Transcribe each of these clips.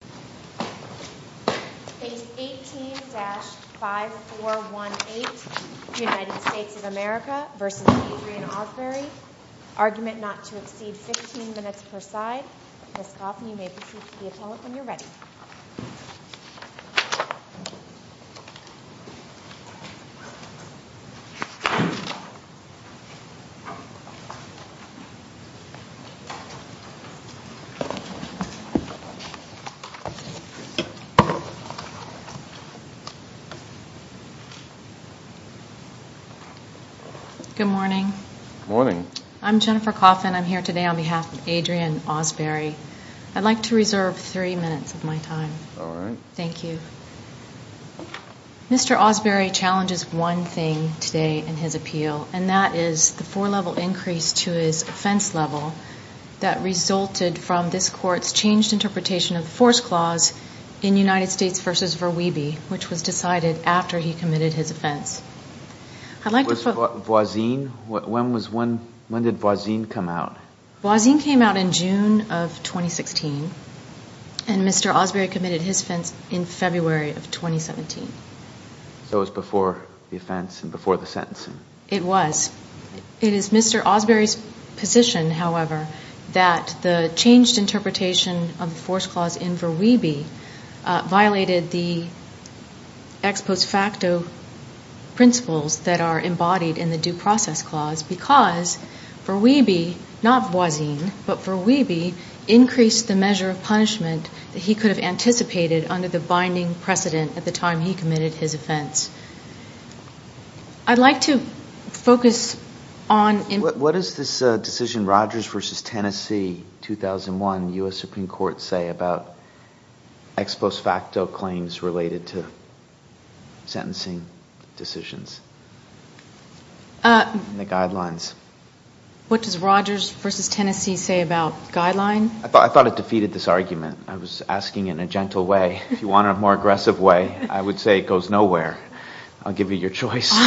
Page 18-5418 United States of America v. Adrian Ausberry Argument not to exceed 15 minutes per side Ms. Coffin, you may proceed to the attendant when you're ready Good morning. I'm Jennifer Coffin. I'm here today on behalf of Adrian Ausberry I'd like to reserve three minutes of my time. Thank you Mr. Ausberry challenges one thing today in his appeal and that is the four-level increase to his offense level that resulted from this court's changed interpretation of the force clause in United States v. Verweeby, which was decided after he committed his offense When did Voisin come out? Voisin came out in June of 2016 and Mr. Ausberry committed his offense in February of 2017 So it was before the offense and before the sentencing It was. It is Mr. Ausberry's position, however, that the changed interpretation of the force clause in Verweeby violated the ex post facto principles that are embodied in the due process clause because Verweeby, not Voisin, but Verweeby increased the measure of punishment that he could have anticipated under the binding precedent at the time he committed his offense I'd like to focus on What does this decision, Rogers v. Tennessee, 2001, U.S. Supreme Court say about ex post facto claims related to sentencing decisions and the guidelines? What does Rogers v. Tennessee say about guidelines? I thought it defeated this argument. I was asking in a gentle way If you want a more aggressive way, I would say it goes nowhere I'll give you your choice You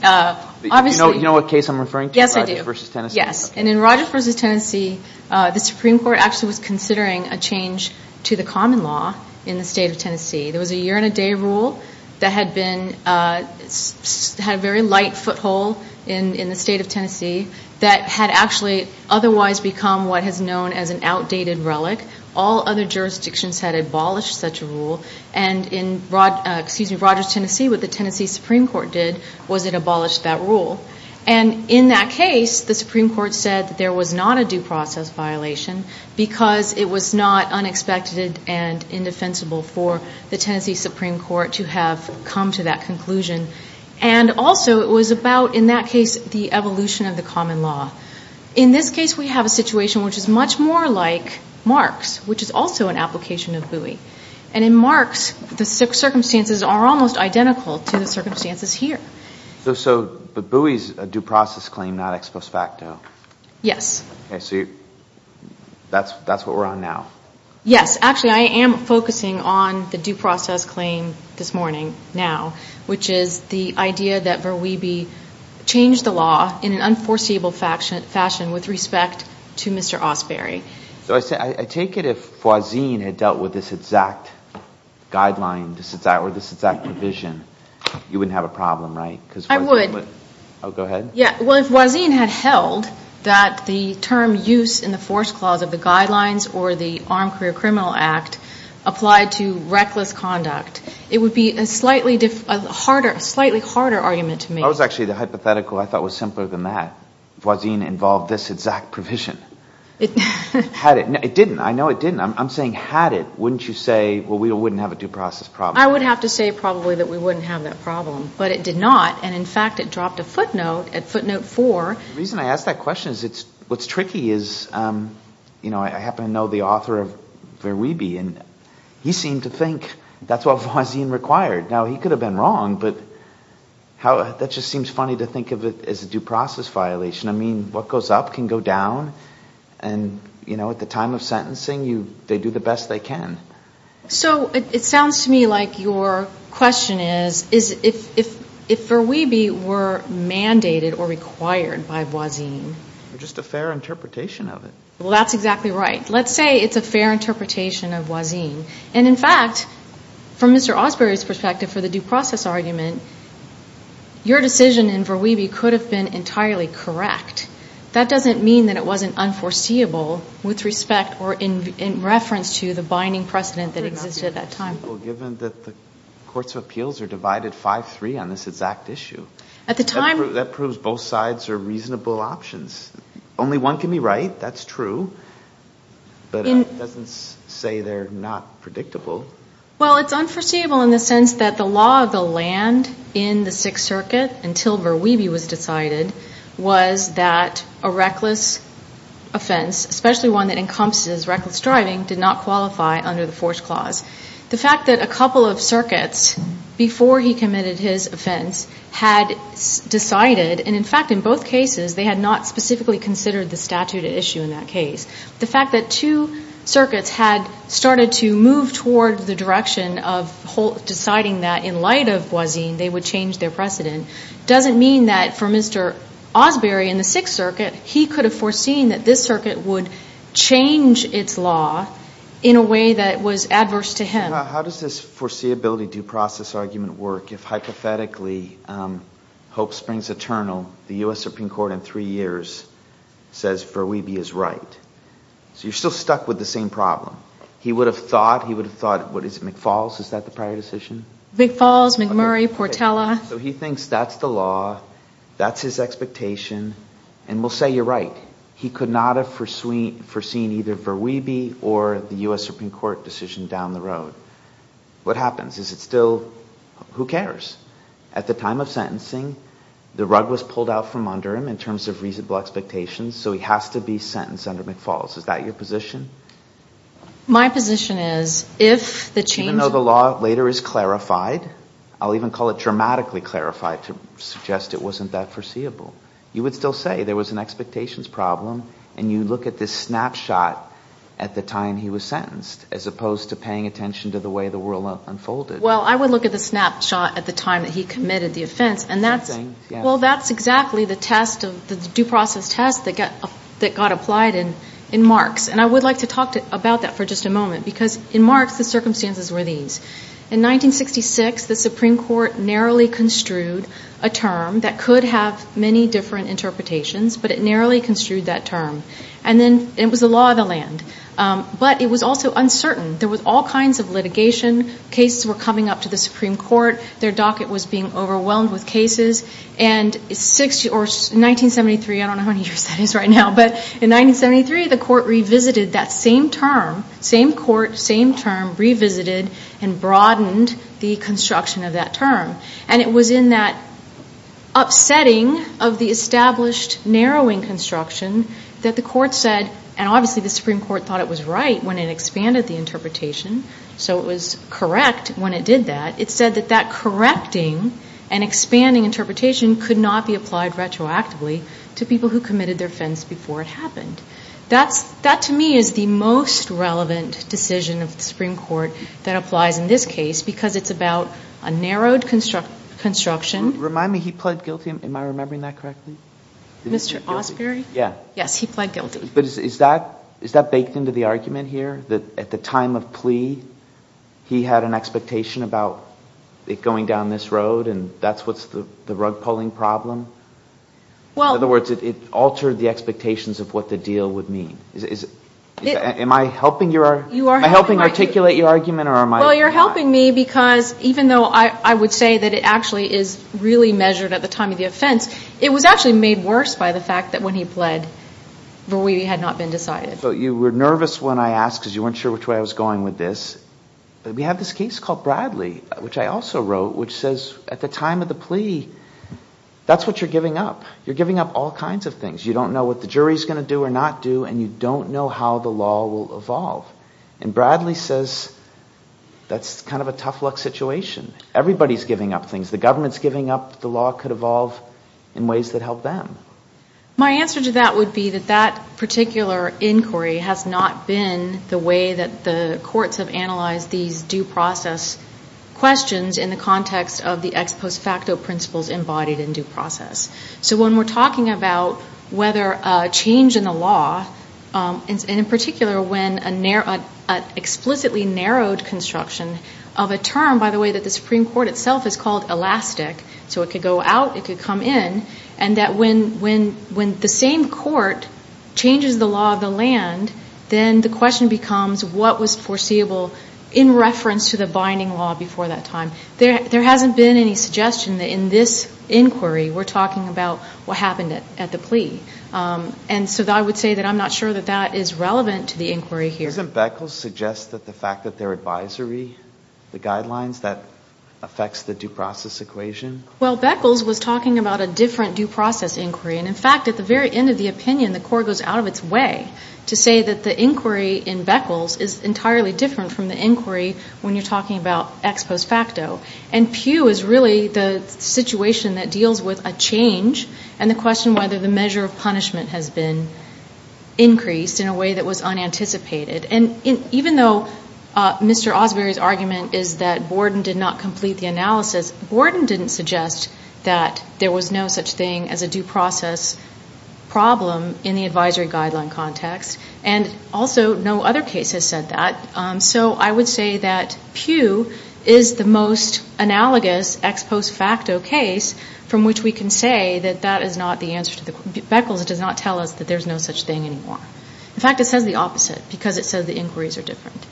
know what case I'm referring to, Rogers v. Tennessee? Yes, and in Rogers v. Tennessee, the Supreme Court actually was considering a change to the common law in the state of Tennessee There was a year and a day rule that had a very light foothold in the state of Tennessee that had actually otherwise become what is known as an outdated relic All other jurisdictions had abolished such a rule And in Rogers v. Tennessee, what the Tennessee Supreme Court did was it abolished that rule And in that case, the Supreme Court said there was not a due process violation because it was not unexpected and indefensible for the Tennessee Supreme Court to have come to that conclusion And also, it was about, in that case, the evolution of the common law In this case, we have a situation which is much more like Marks, which is also an application of Bowie And in Marks, the circumstances are almost identical to the circumstances here So Bowie is a due process claim, not ex post facto? Yes Okay, so that's what we're on now Yes, actually, I am focusing on the due process claim this morning, now which is the idea that Verweebe changed the law in an unforeseeable fashion with respect to Mr. Osberry So I take it if Foisin had dealt with this exact guideline or this exact provision, you wouldn't have a problem, right? I would Oh, go ahead Well, if Foisin had held that the term use in the force clause of the guidelines or the Armed Career Criminal Act applied to reckless conduct, it would be a slightly harder argument to me That was actually the hypothetical I thought was simpler than that Foisin involved this exact provision Had it, no, it didn't, I know it didn't I'm saying had it, wouldn't you say, well, we wouldn't have a due process problem? I would have to say probably that we wouldn't have that problem But it did not, and in fact, it dropped a footnote at footnote four The reason I ask that question is what's tricky is, you know, I happen to know the author of Verweebe and he seemed to think that's what Foisin required Now, he could have been wrong, but that just seems funny to think of it as a due process violation I mean, what goes up can go down, and, you know, at the time of sentencing, they do the best they can So it sounds to me like your question is, if Verweebe were mandated or required by Foisin Just a fair interpretation of it Well, that's exactly right Let's say it's a fair interpretation of Foisin And in fact, from Mr. Osbery's perspective for the due process argument your decision in Verweebe could have been entirely correct That doesn't mean that it wasn't unforeseeable with respect or in reference to the binding precedent that existed at that time Given that the courts of appeals are divided 5-3 on this exact issue That proves both sides are reasonable options Only one can be right, that's true But it doesn't say they're not predictable Well, it's unforeseeable in the sense that the law of the land in the Sixth Circuit until Verweebe was decided was that a reckless offense, especially one that encompasses reckless driving did not qualify under the Force Clause The fact that a couple of circuits before he committed his offense had decided, and in fact in both cases, they had not specifically considered the statute at issue in that case The fact that two circuits had started to move toward the direction of deciding that in light of Foisin, they would change their precedent doesn't mean that for Mr. Osbery in the Sixth Circuit he could have foreseen that this circuit would change its law in a way that was adverse to him How does this foreseeability due process argument work if hypothetically Hope Springs Eternal, the U.S. Supreme Court in three years says Verweebe is right So you're still stuck with the same problem He would have thought, he would have thought, what is it, McFalls? Is that the prior decision? McFalls, McMurray, Portela So he thinks that's the law, that's his expectation And we'll say you're right He could not have foreseen either Verweebe or the U.S. Supreme Court decision down the road What happens? Is it still, who cares? At the time of sentencing, the rug was pulled out from under him in terms of reasonable expectations So he has to be sentenced under McFalls. Is that your position? My position is, if the change Even though the law later is clarified I'll even call it dramatically clarified to suggest it wasn't that foreseeable You would still say there was an expectations problem And you look at this snapshot at the time he was sentenced as opposed to paying attention to the way the world unfolded Well, I would look at the snapshot at the time that he committed the offense Well, that's exactly the test, the due process test that got applied in Marx And I would like to talk about that for just a moment Because in Marx, the circumstances were these In 1966, the Supreme Court narrowly construed a term that could have many different interpretations But it narrowly construed that term And then it was the law of the land But it was also uncertain There was all kinds of litigation Cases were coming up to the Supreme Court Their docket was being overwhelmed with cases And in 1973, I don't know how many years that is right now But in 1973, the Court revisited that same term Same Court, same term, revisited and broadened the construction of that term And it was in that upsetting of the established narrowing construction that the Court said And obviously the Supreme Court thought it was right when it expanded the interpretation So it was correct when it did that It said that that correcting and expanding interpretation could not be applied retroactively to people who committed their offense before it happened That to me is the most relevant decision of the Supreme Court that applies in this case Because it's about a narrowed construction Remind me, he pled guilty, am I remembering that correctly? Mr. Osbery? Yeah Yes, he pled guilty But is that baked into the argument here? That at the time of plea, he had an expectation about it going down this road And that's what's the rug-pulling problem? In other words, it altered the expectations of what the deal would mean Am I helping articulate your argument? Well, you're helping me because Even though I would say that it actually is really measured at the time of the offense It was actually made worse by the fact that when he pled Verweedie had not been decided You were nervous when I asked because you weren't sure which way I was going with this But we have this case called Bradley, which I also wrote Which says at the time of the plea, that's what you're giving up You're giving up all kinds of things You don't know what the jury's going to do or not do And you don't know how the law will evolve And Bradley says that's kind of a tough luck situation Everybody's giving up things The government's giving up the law could evolve in ways that help them My answer to that would be that that particular inquiry Has not been the way that the courts have analyzed these due process questions In the context of the ex post facto principles embodied in due process So when we're talking about whether a change in the law And in particular when an explicitly narrowed construction Of a term, by the way, that the Supreme Court itself has called elastic So it could go out, it could come in And that when the same court changes the law of the land Then the question becomes what was foreseeable In reference to the binding law before that time There hasn't been any suggestion that in this inquiry We're talking about what happened at the plea And so I would say that I'm not sure that that is relevant to the inquiry here Doesn't Beckles suggest that the fact that their advisory The guidelines, that affects the due process equation? Well Beckles was talking about a different due process inquiry And in fact at the very end of the opinion the court goes out of its way To say that the inquiry in Beckles is entirely different from the inquiry When you're talking about ex post facto And Pew is really the situation that deals with a change And the question whether the measure of punishment has been increased In a way that was unanticipated And even though Mr. Osbery's argument is that Borden did not complete the analysis Borden didn't suggest that there was no such thing As a due process problem in the advisory guideline context And also no other case has said that So I would say that Pew is the most analogous ex post facto case From which we can say that that is not the answer to the Beckles does not tell us that there's no such thing anymore In fact it says the opposite because it says the inquiries are different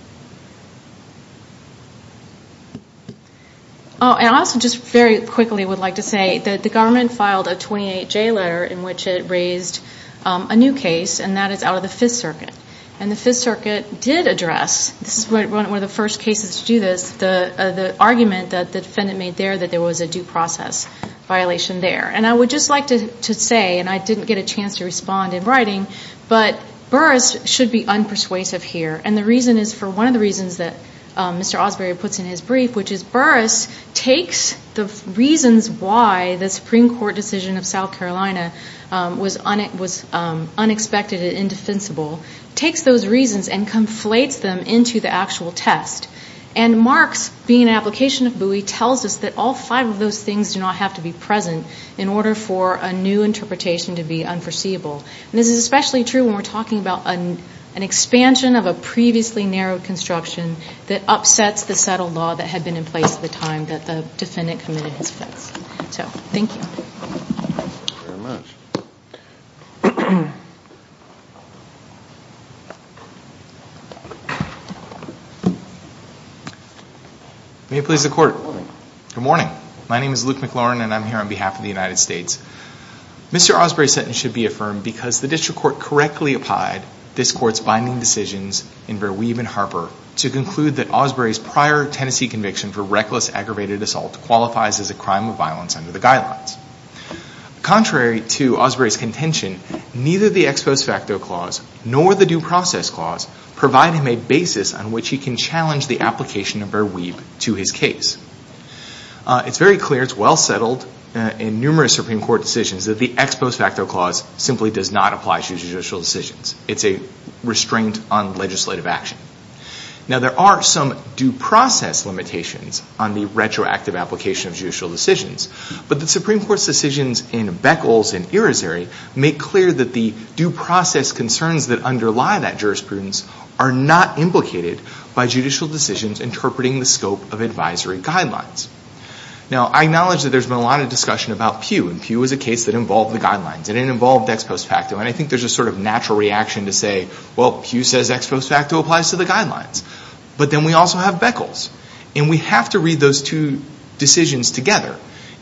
Oh and I also just very quickly would like to say That the government filed a 28J letter in which it raised a new case And that is out of the 5th circuit And the 5th circuit did address This is one of the first cases to do this The argument that the defendant made there That there was a due process violation there And I would just like to say And I didn't get a chance to respond in writing But Burris should be unpersuasive here And the reason is for one of the reasons that Mr. Osbury puts in his brief Which is Burris takes the reasons why The Supreme Court decision of South Carolina Was unexpected and indefensible Takes those reasons and conflates them into the actual test And Mark's being an application of Bowie Tells us that all five of those things do not have to be present In order for a new interpretation to be unforeseeable And this is especially true when we're talking about An expansion of a previously narrowed construction That upsets the settled law that had been in place at the time That the defendant committed his offense So, thank you May it please the court Good morning My name is Luke McLaurin and I'm here on behalf of the United States Mr. Osbury's sentence should be affirmed Because the district court correctly applied This court's binding decisions in Verweeve and Harper To conclude that Osbury's prior Tennessee conviction For reckless aggravated assault Qualifies as a crime of violence under the guidelines Contrary to Osbury's contention Neither the ex post facto clause Nor the due process clause Provide him a basis on which he can challenge The application of Verweeve to his case It's very clear, it's well settled In numerous Supreme Court decisions That the ex post facto clause Simply does not apply to judicial decisions It's a restraint on legislative action Now, there are some due process limitations On the retroactive application of judicial decisions But the Supreme Court's decisions in Beckles and Irisary Make clear that the due process concerns That underlie that jurisprudence Are not implicated by judicial decisions Interpreting the scope of advisory guidelines Now, I acknowledge that there's been a lot of discussion about Pew And Pew is a case that involved the guidelines And it involved ex post facto And I think there's a sort of natural reaction to say Well, Pew says ex post facto applies to the guidelines But then we also have Beckles And we have to read those two decisions together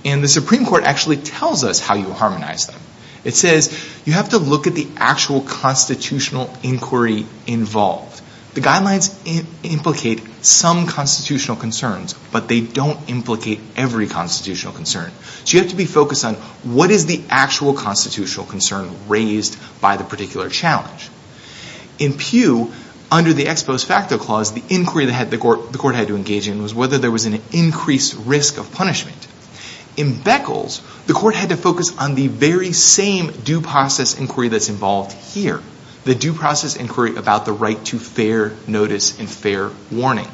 And the Supreme Court actually tells us how you harmonize them It says, you have to look at the actual Constitutional inquiry involved The guidelines implicate some constitutional concerns But they don't implicate every constitutional concern So you have to be focused on What is the actual constitutional concern Raised by the particular challenge In Pew, under the ex post facto clause The inquiry the court had to engage in Was whether there was an increased risk of punishment In Beckles, the court had to focus on the very same Due process inquiry that's involved here The due process inquiry about the right to fair notice And fair warning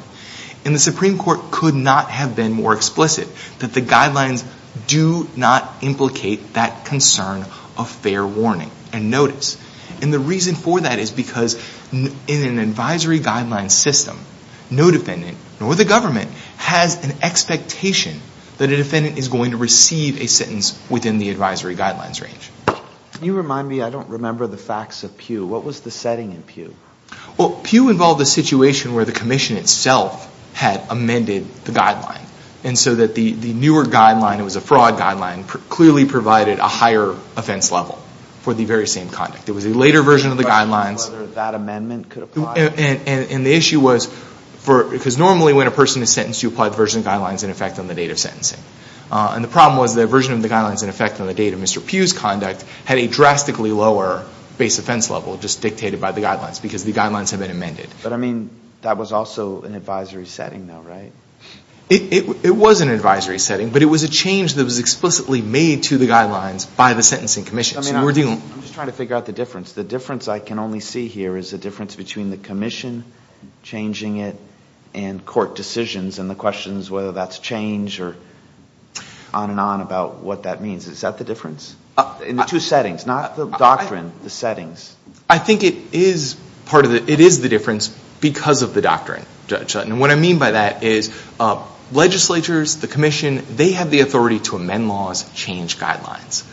And the Supreme Court could not have been more explicit That the guidelines do not implicate that concern Of fair warning and notice And the reason for that is because In an advisory guidelines system No defendant, nor the government Has an expectation That a defendant is going to receive a sentence Within the advisory guidelines range You remind me, I don't remember the facts of Pew What was the setting in Pew? Well, Pew involved a situation where the commission itself Had amended the guideline And so that the newer guideline It was a fraud guideline Clearly provided a higher offense level For the very same conduct It was a later version of the guidelines That amendment could apply And the issue was Because normally when a person is sentenced You apply the version of the guidelines In effect on the date of sentencing And the problem was the version of the guidelines In effect on the date of Mr. Pew's conduct Had a drastically lower base offense level Just dictated by the guidelines Because the guidelines had been amended But I mean, that was also an advisory setting though, right? It was an advisory setting But it was a change that was explicitly made To the guidelines by the sentencing commission So we're dealing I'm just trying to figure out the difference The difference I can only see here Is the difference between the commission Changing it And court decisions And the questions whether that's change Or on and on about what that means Is that the difference? In the two settings Not the doctrine, the settings I think it is part of the It is the difference because of the doctrine, Judge Legislatures, the commission They have the authority to amend laws Change guidelines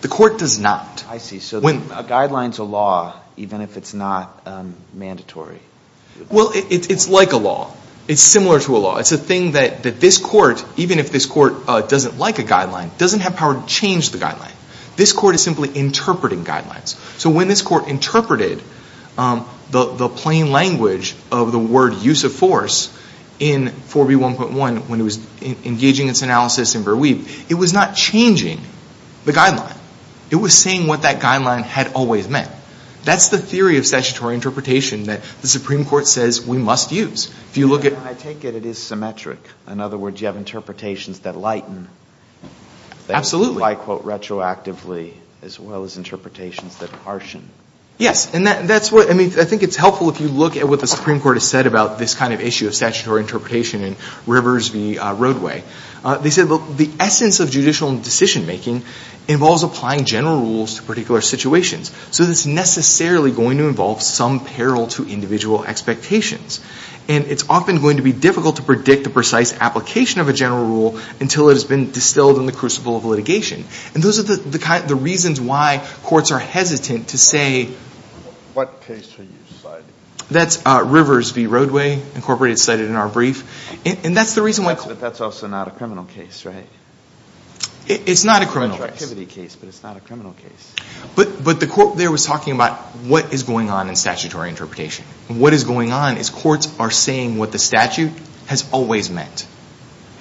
The court does not I see, so a guideline's a law Even if it's not mandatory Well, it's like a law It's similar to a law It's a thing that this court Even if this court doesn't like a guideline Doesn't have power to change the guideline This court is simply interpreting guidelines So when this court interpreted The plain language of the word use of force In 4B1.1 When it was engaging its analysis in Berweave It was not changing the guideline It was saying what that guideline had always meant That's the theory of statutory interpretation That the Supreme Court says we must use If you look at I take it it is symmetric In other words, you have interpretations that lighten Absolutely That, I quote, retroactively As well as interpretations that harshen Yes, and that's what I mean, I think it's helpful If you look at what the Supreme Court has said About this kind of issue of statutory interpretation In Rivers v. Roadway They said, look, the essence of judicial decision-making Involves applying general rules to particular situations So it's necessarily going to involve Some peril to individual expectations And it's often going to be difficult to predict The precise application of a general rule Until it has been distilled in the crucible of litigation And those are the reasons why Courts are hesitant to say What case are you citing? That's Rivers v. Roadway Incorporated cited in our brief And that's the reason why But that's also not a criminal case, right? It's not a criminal case It's a retroactivity case, but it's not a criminal case But the quote there was talking about What is going on in statutory interpretation What is going on is courts are saying What the statute has always meant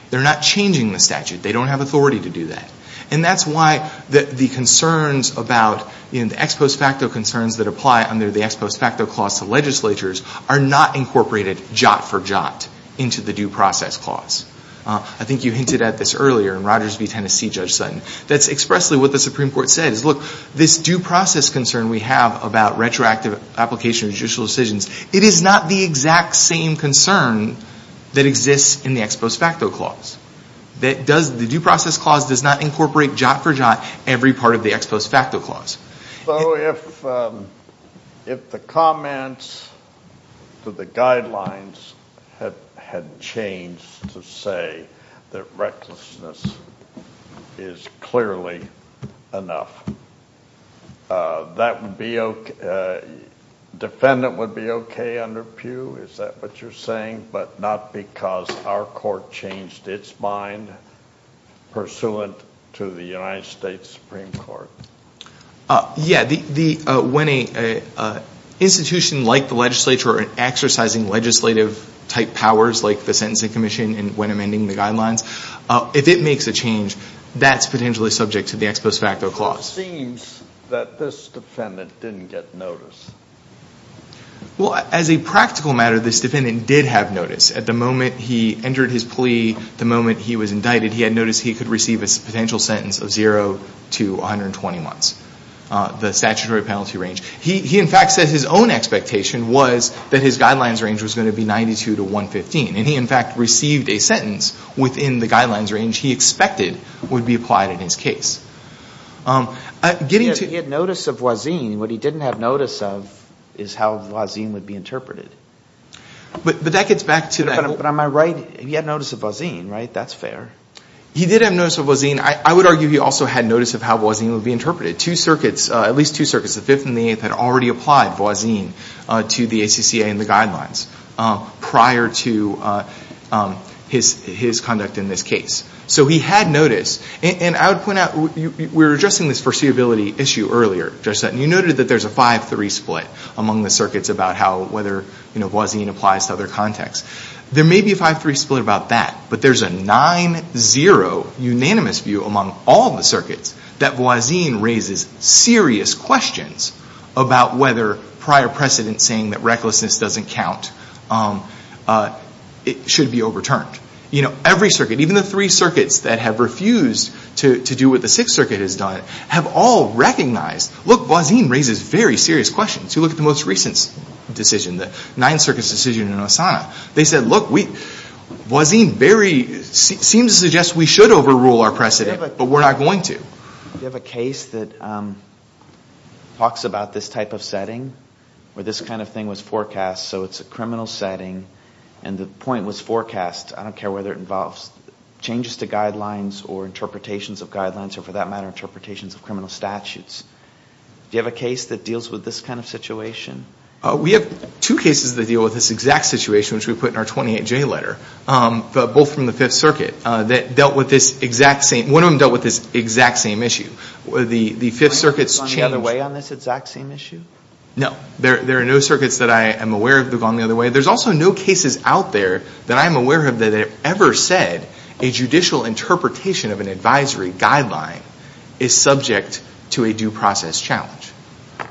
They're not changing the statute They don't have authority to do that And that's why the concerns about The ex post facto concerns that apply Under the ex post facto clause to legislatures Are not incorporated jot for jot Into the due process clause I think you hinted at this earlier In Rogers v. Tennessee, Judge Sutton That's expressly what the Supreme Court said Look, this due process concern we have About retroactive application of judicial decisions It is not the exact same concern That exists in the ex post facto clause The due process clause does not incorporate Jot for jot every part of the ex post facto clause So if the comments to the guidelines Had changed to say that recklessness Is clearly enough That would be okay A defendant would be okay under Pew Is that what you're saying? But not because our court changed its mind Pursuant to the United States Supreme Court Yeah, when an institution like the legislature Exercising legislative type powers Like the Sentencing Commission And when amending the guidelines If it makes a change That's potentially subject to the ex post facto clause It seems that this defendant didn't get notice Well, as a practical matter This defendant did have notice At the moment he entered his plea The moment he was indicted He had notice he could receive A potential sentence of 0 to 120 months The statutory penalty range He in fact said his own expectation Was that his guidelines range Was going to be 92 to 115 And he in fact received a sentence Within the guidelines range he expected Would be applied in his case He had notice of voisine What he didn't have notice of Is how voisine would be interpreted But that gets back to that But am I right? He had notice of voisine, right? That's fair He did have notice of voisine I would argue he also had notice Of how voisine would be interpreted Two circuits At least two circuits The 5th and the 8th Had already applied voisine To the ACCA and the guidelines Prior to his conduct in this case So he had notice And I would point out We were addressing this foreseeability issue earlier Judge Sutton You noted that there's a 5-3 split Among the circuits About whether voisine applies to other contexts There may be a 5-3 split about that But there's a 9-0 unanimous view Among all the circuits That voisine raises serious questions About whether prior precedent Saying that recklessness doesn't count Should be overturned You know, every circuit Even the three circuits That have refused to do what the 6th circuit has done Have all recognized Look, voisine raises very serious questions You look at the most recent decision The 9th circuit's decision in Osana They said, look, voisine very Seems to suggest we should overrule our precedent But we're not going to You have a case that Talks about this type of setting Where this kind of thing was forecast So it's a criminal setting And the point was forecast I don't care whether it involves Changes to guidelines Or interpretations of guidelines Or for that matter Interpretations of criminal statutes Do you have a case that deals with this kind of situation? We have two cases that deal with this exact situation Which we put in our 28-J letter Both from the 5th circuit That dealt with this exact same One of them dealt with this exact same issue The 5th circuit's change Have they gone the other way on this exact same issue? No, there are no circuits that I am aware of That have gone the other way There's also no cases out there That I am aware of that have ever said A judicial interpretation of an advisory guideline Is subject to a due process challenge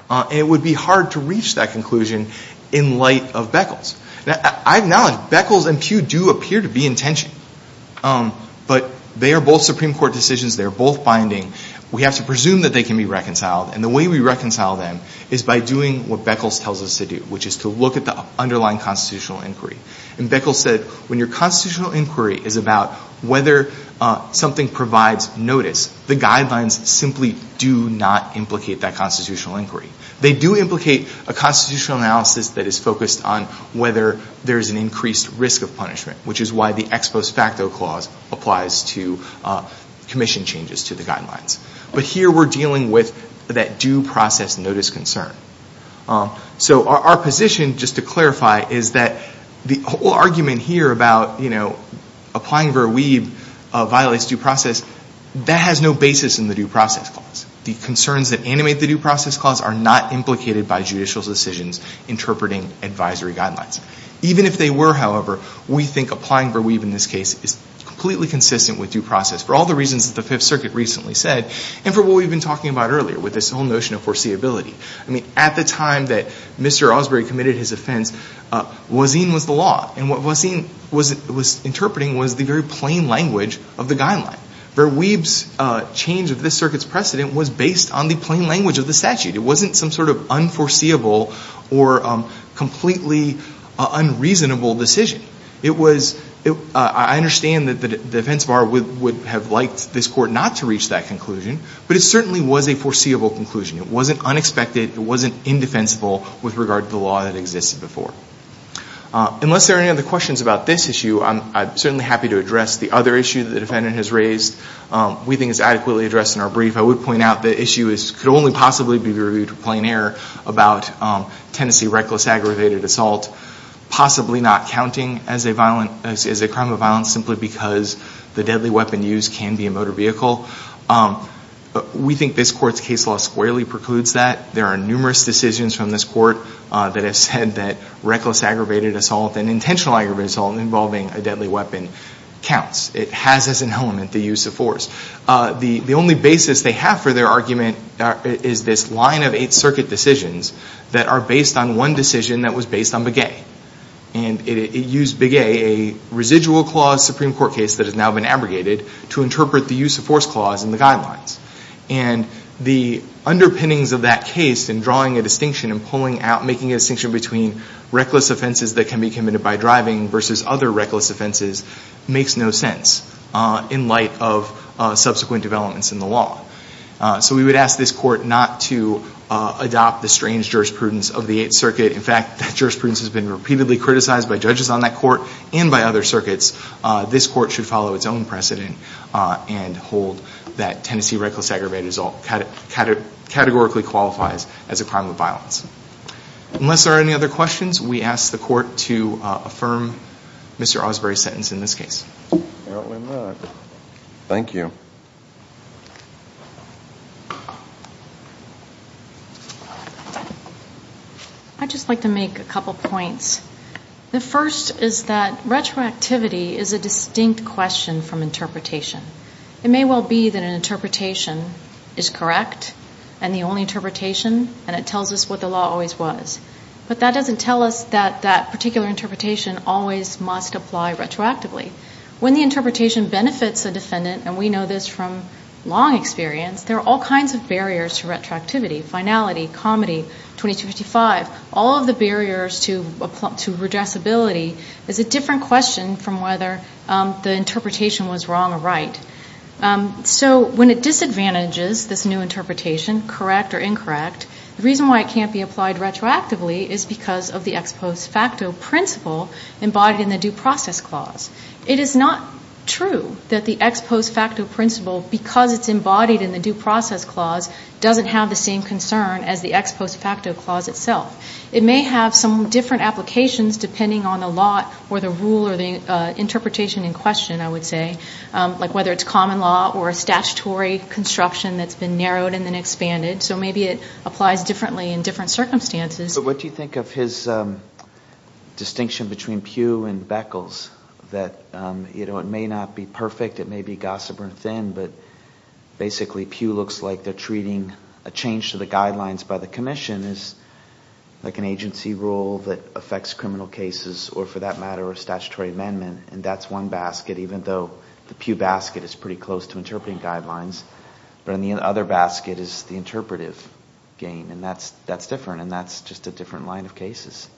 And it would be hard to reach that conclusion In light of Beckles Now I acknowledge Beckles and Pew do appear to be in tension But they are both Supreme Court decisions They are both binding We have to presume that they can be reconciled And the way we reconcile them Is by doing what Beckles tells us to do Which is to look at the underlying constitutional inquiry And Beckles said When your constitutional inquiry is about Whether something provides notice The guidelines simply do not Implicate that constitutional inquiry They do implicate a constitutional analysis That is focused on whether There is an increased risk of punishment Which is why the Ex Post Facto Clause Applies to commission changes to the guidelines But here we are dealing with That due process notice concern So our position, just to clarify Is that the whole argument here about You know, applying Ver Weeb Violates due process That has no basis in the due process clause The concerns that animate the due process clause Are not implicated by judicial decisions Interpreting advisory guidelines Even if they were, however We think applying Ver Weeb in this case Is completely consistent with due process For all the reasons that the Fifth Circuit recently said And for what we've been talking about earlier With this whole notion of foreseeability I mean, at the time that Mr. Osbery committed his offense Voisin was the law And what Voisin was interpreting Was the very plain language of the guideline Ver Weeb's change of this circuit's precedent Was based on the plain language of the statute It wasn't some sort of unforeseeable Or completely unreasonable decision I understand that the defense bar Would have liked this court not to reach that conclusion But it certainly was a foreseeable conclusion It wasn't unexpected, it wasn't indefensible With regard to the law that existed before Unless there are any other questions about this issue I'm certainly happy to address the other issue That the defendant has raised We think it's adequately addressed in our brief If I would point out, the issue could only possibly Be reviewed with plain error About Tennessee reckless aggravated assault Possibly not counting as a crime of violence Simply because the deadly weapon used Can be a motor vehicle We think this court's case law squarely precludes that There are numerous decisions from this court That have said that reckless aggravated assault And intentional aggravated assault Involving a deadly weapon counts It has as an element the use of force The only basis they have for their argument Is this line of eight circuit decisions That are based on one decision that was based on Begay And it used Begay, a residual clause Supreme Court case That has now been abrogated To interpret the use of force clause in the guidelines And the underpinnings of that case In drawing a distinction and pulling out Making a distinction between reckless offenses That can be committed by driving Versus other reckless offenses Makes no sense in light of Subsequent developments in the law So we would ask this court not to Adopt the strange jurisprudence of the eighth circuit In fact, that jurisprudence has been repeatedly criticized By judges on that court and by other circuits This court should follow its own precedent And hold that Tennessee reckless aggravated assault Categorically qualifies as a crime of violence Unless there are any other questions We ask the court to affirm Mr. Osbury's sentence in this case Thank you I'd just like to make a couple points The first is that retroactivity Is a distinct question from interpretation It may well be that an interpretation is correct And the only interpretation And it tells us what the law always was But that doesn't tell us that That particular interpretation Always must apply retroactively When the interpretation benefits a defendant And we know this from long experience There are all kinds of barriers to retroactivity Finality, comedy, 2255 All of the barriers to redressability Is a different question from whether The interpretation was wrong or right So when it disadvantages this new interpretation Correct or incorrect The reason why it can't be applied retroactively Is because of the ex post facto principle Embodied in the due process clause It is not true that the ex post facto principle Because it's embodied in the due process clause Doesn't have the same concern As the ex post facto clause itself It may have some different applications Depending on the law or the rule Or the interpretation in question, I would say Like whether it's common law Or a statutory construction That's been narrowed and then expanded So maybe it applies differently In different circumstances But what do you think of his Distinction between Pugh and Beckles That it may not be perfect It may be gossip or thin But basically Pugh looks like They're treating a change to the guidelines By the commission as Like an agency rule that affects criminal cases Or for that matter a statutory amendment And that's one basket Even though the Pugh basket Is pretty close to interpreting guidelines But in the other basket is the interpretive game And that's different And that's just a different line of cases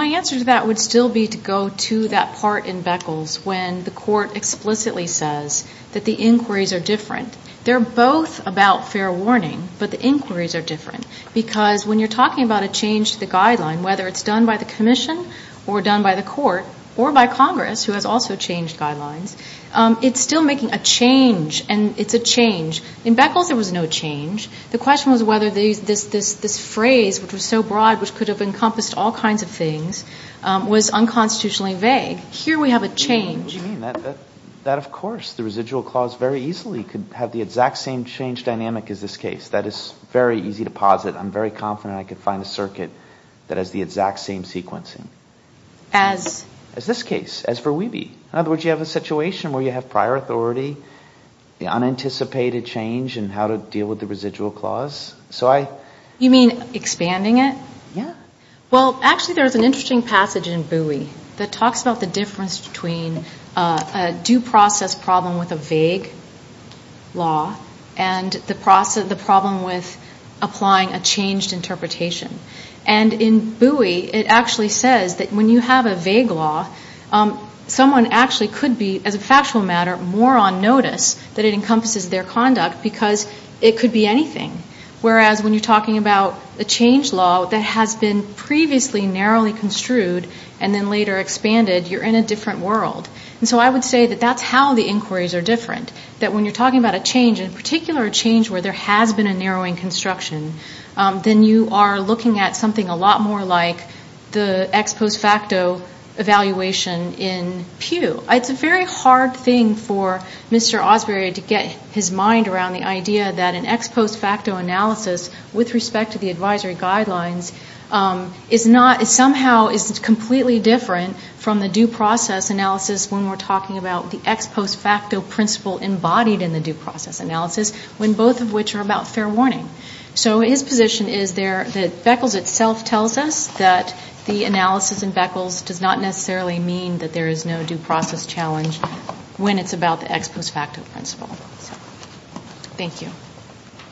My answer to that would still be To go to that part in Beckles When the court explicitly says That the inquiries are different They're both about fair warning But the inquiries are different Because when you're talking about A change to the guideline Whether it's done by the commission Or done by the court Or by Congress Who has also changed guidelines It's still making a change And it's a change In Beckles there was no change The question was whether this phrase Which was so broad Which could have encompassed all kinds of things Was unconstitutionally vague Here we have a change What do you mean? That of course The residual clause very easily Could have the exact same change dynamic As this case That is very easy to posit I'm very confident I could find a circuit That has the exact same sequencing As? As this case As for Wiebe In other words you have a situation Where you have prior authority The unanticipated change And how to deal with the residual clause So I You mean expanding it? Yeah Well actually there's an interesting passage In Bowie That talks about the difference between A due process problem with a vague law And the problem with Applying a changed interpretation And in Bowie it actually says That when you have a vague law Someone actually could be As a factual matter More on notice That it encompasses their conduct Because it could be anything Whereas when you're talking about A change law that has been Previously narrowly construed And then later expanded You're in a different world And so I would say that That's how the inquiries are different That when you're talking about a change In particular a change where There has been a narrowing construction Then you are looking at something A lot more like The ex post facto evaluation in Pew It's a very hard thing for Mr. Osbury to get his mind around the idea That an ex post facto analysis With respect to the advisory guidelines Is not Somehow is completely different From the due process analysis When we're talking about The ex post facto principle Embodied in the due process analysis When both of which are about fair warning So his position is there That Beckles itself tells us That the analysis in Beckles Does not necessarily mean That there is no due process challenge When it's about the ex post facto principle Thank you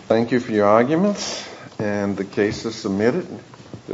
Thank you for your arguments And the case is submitted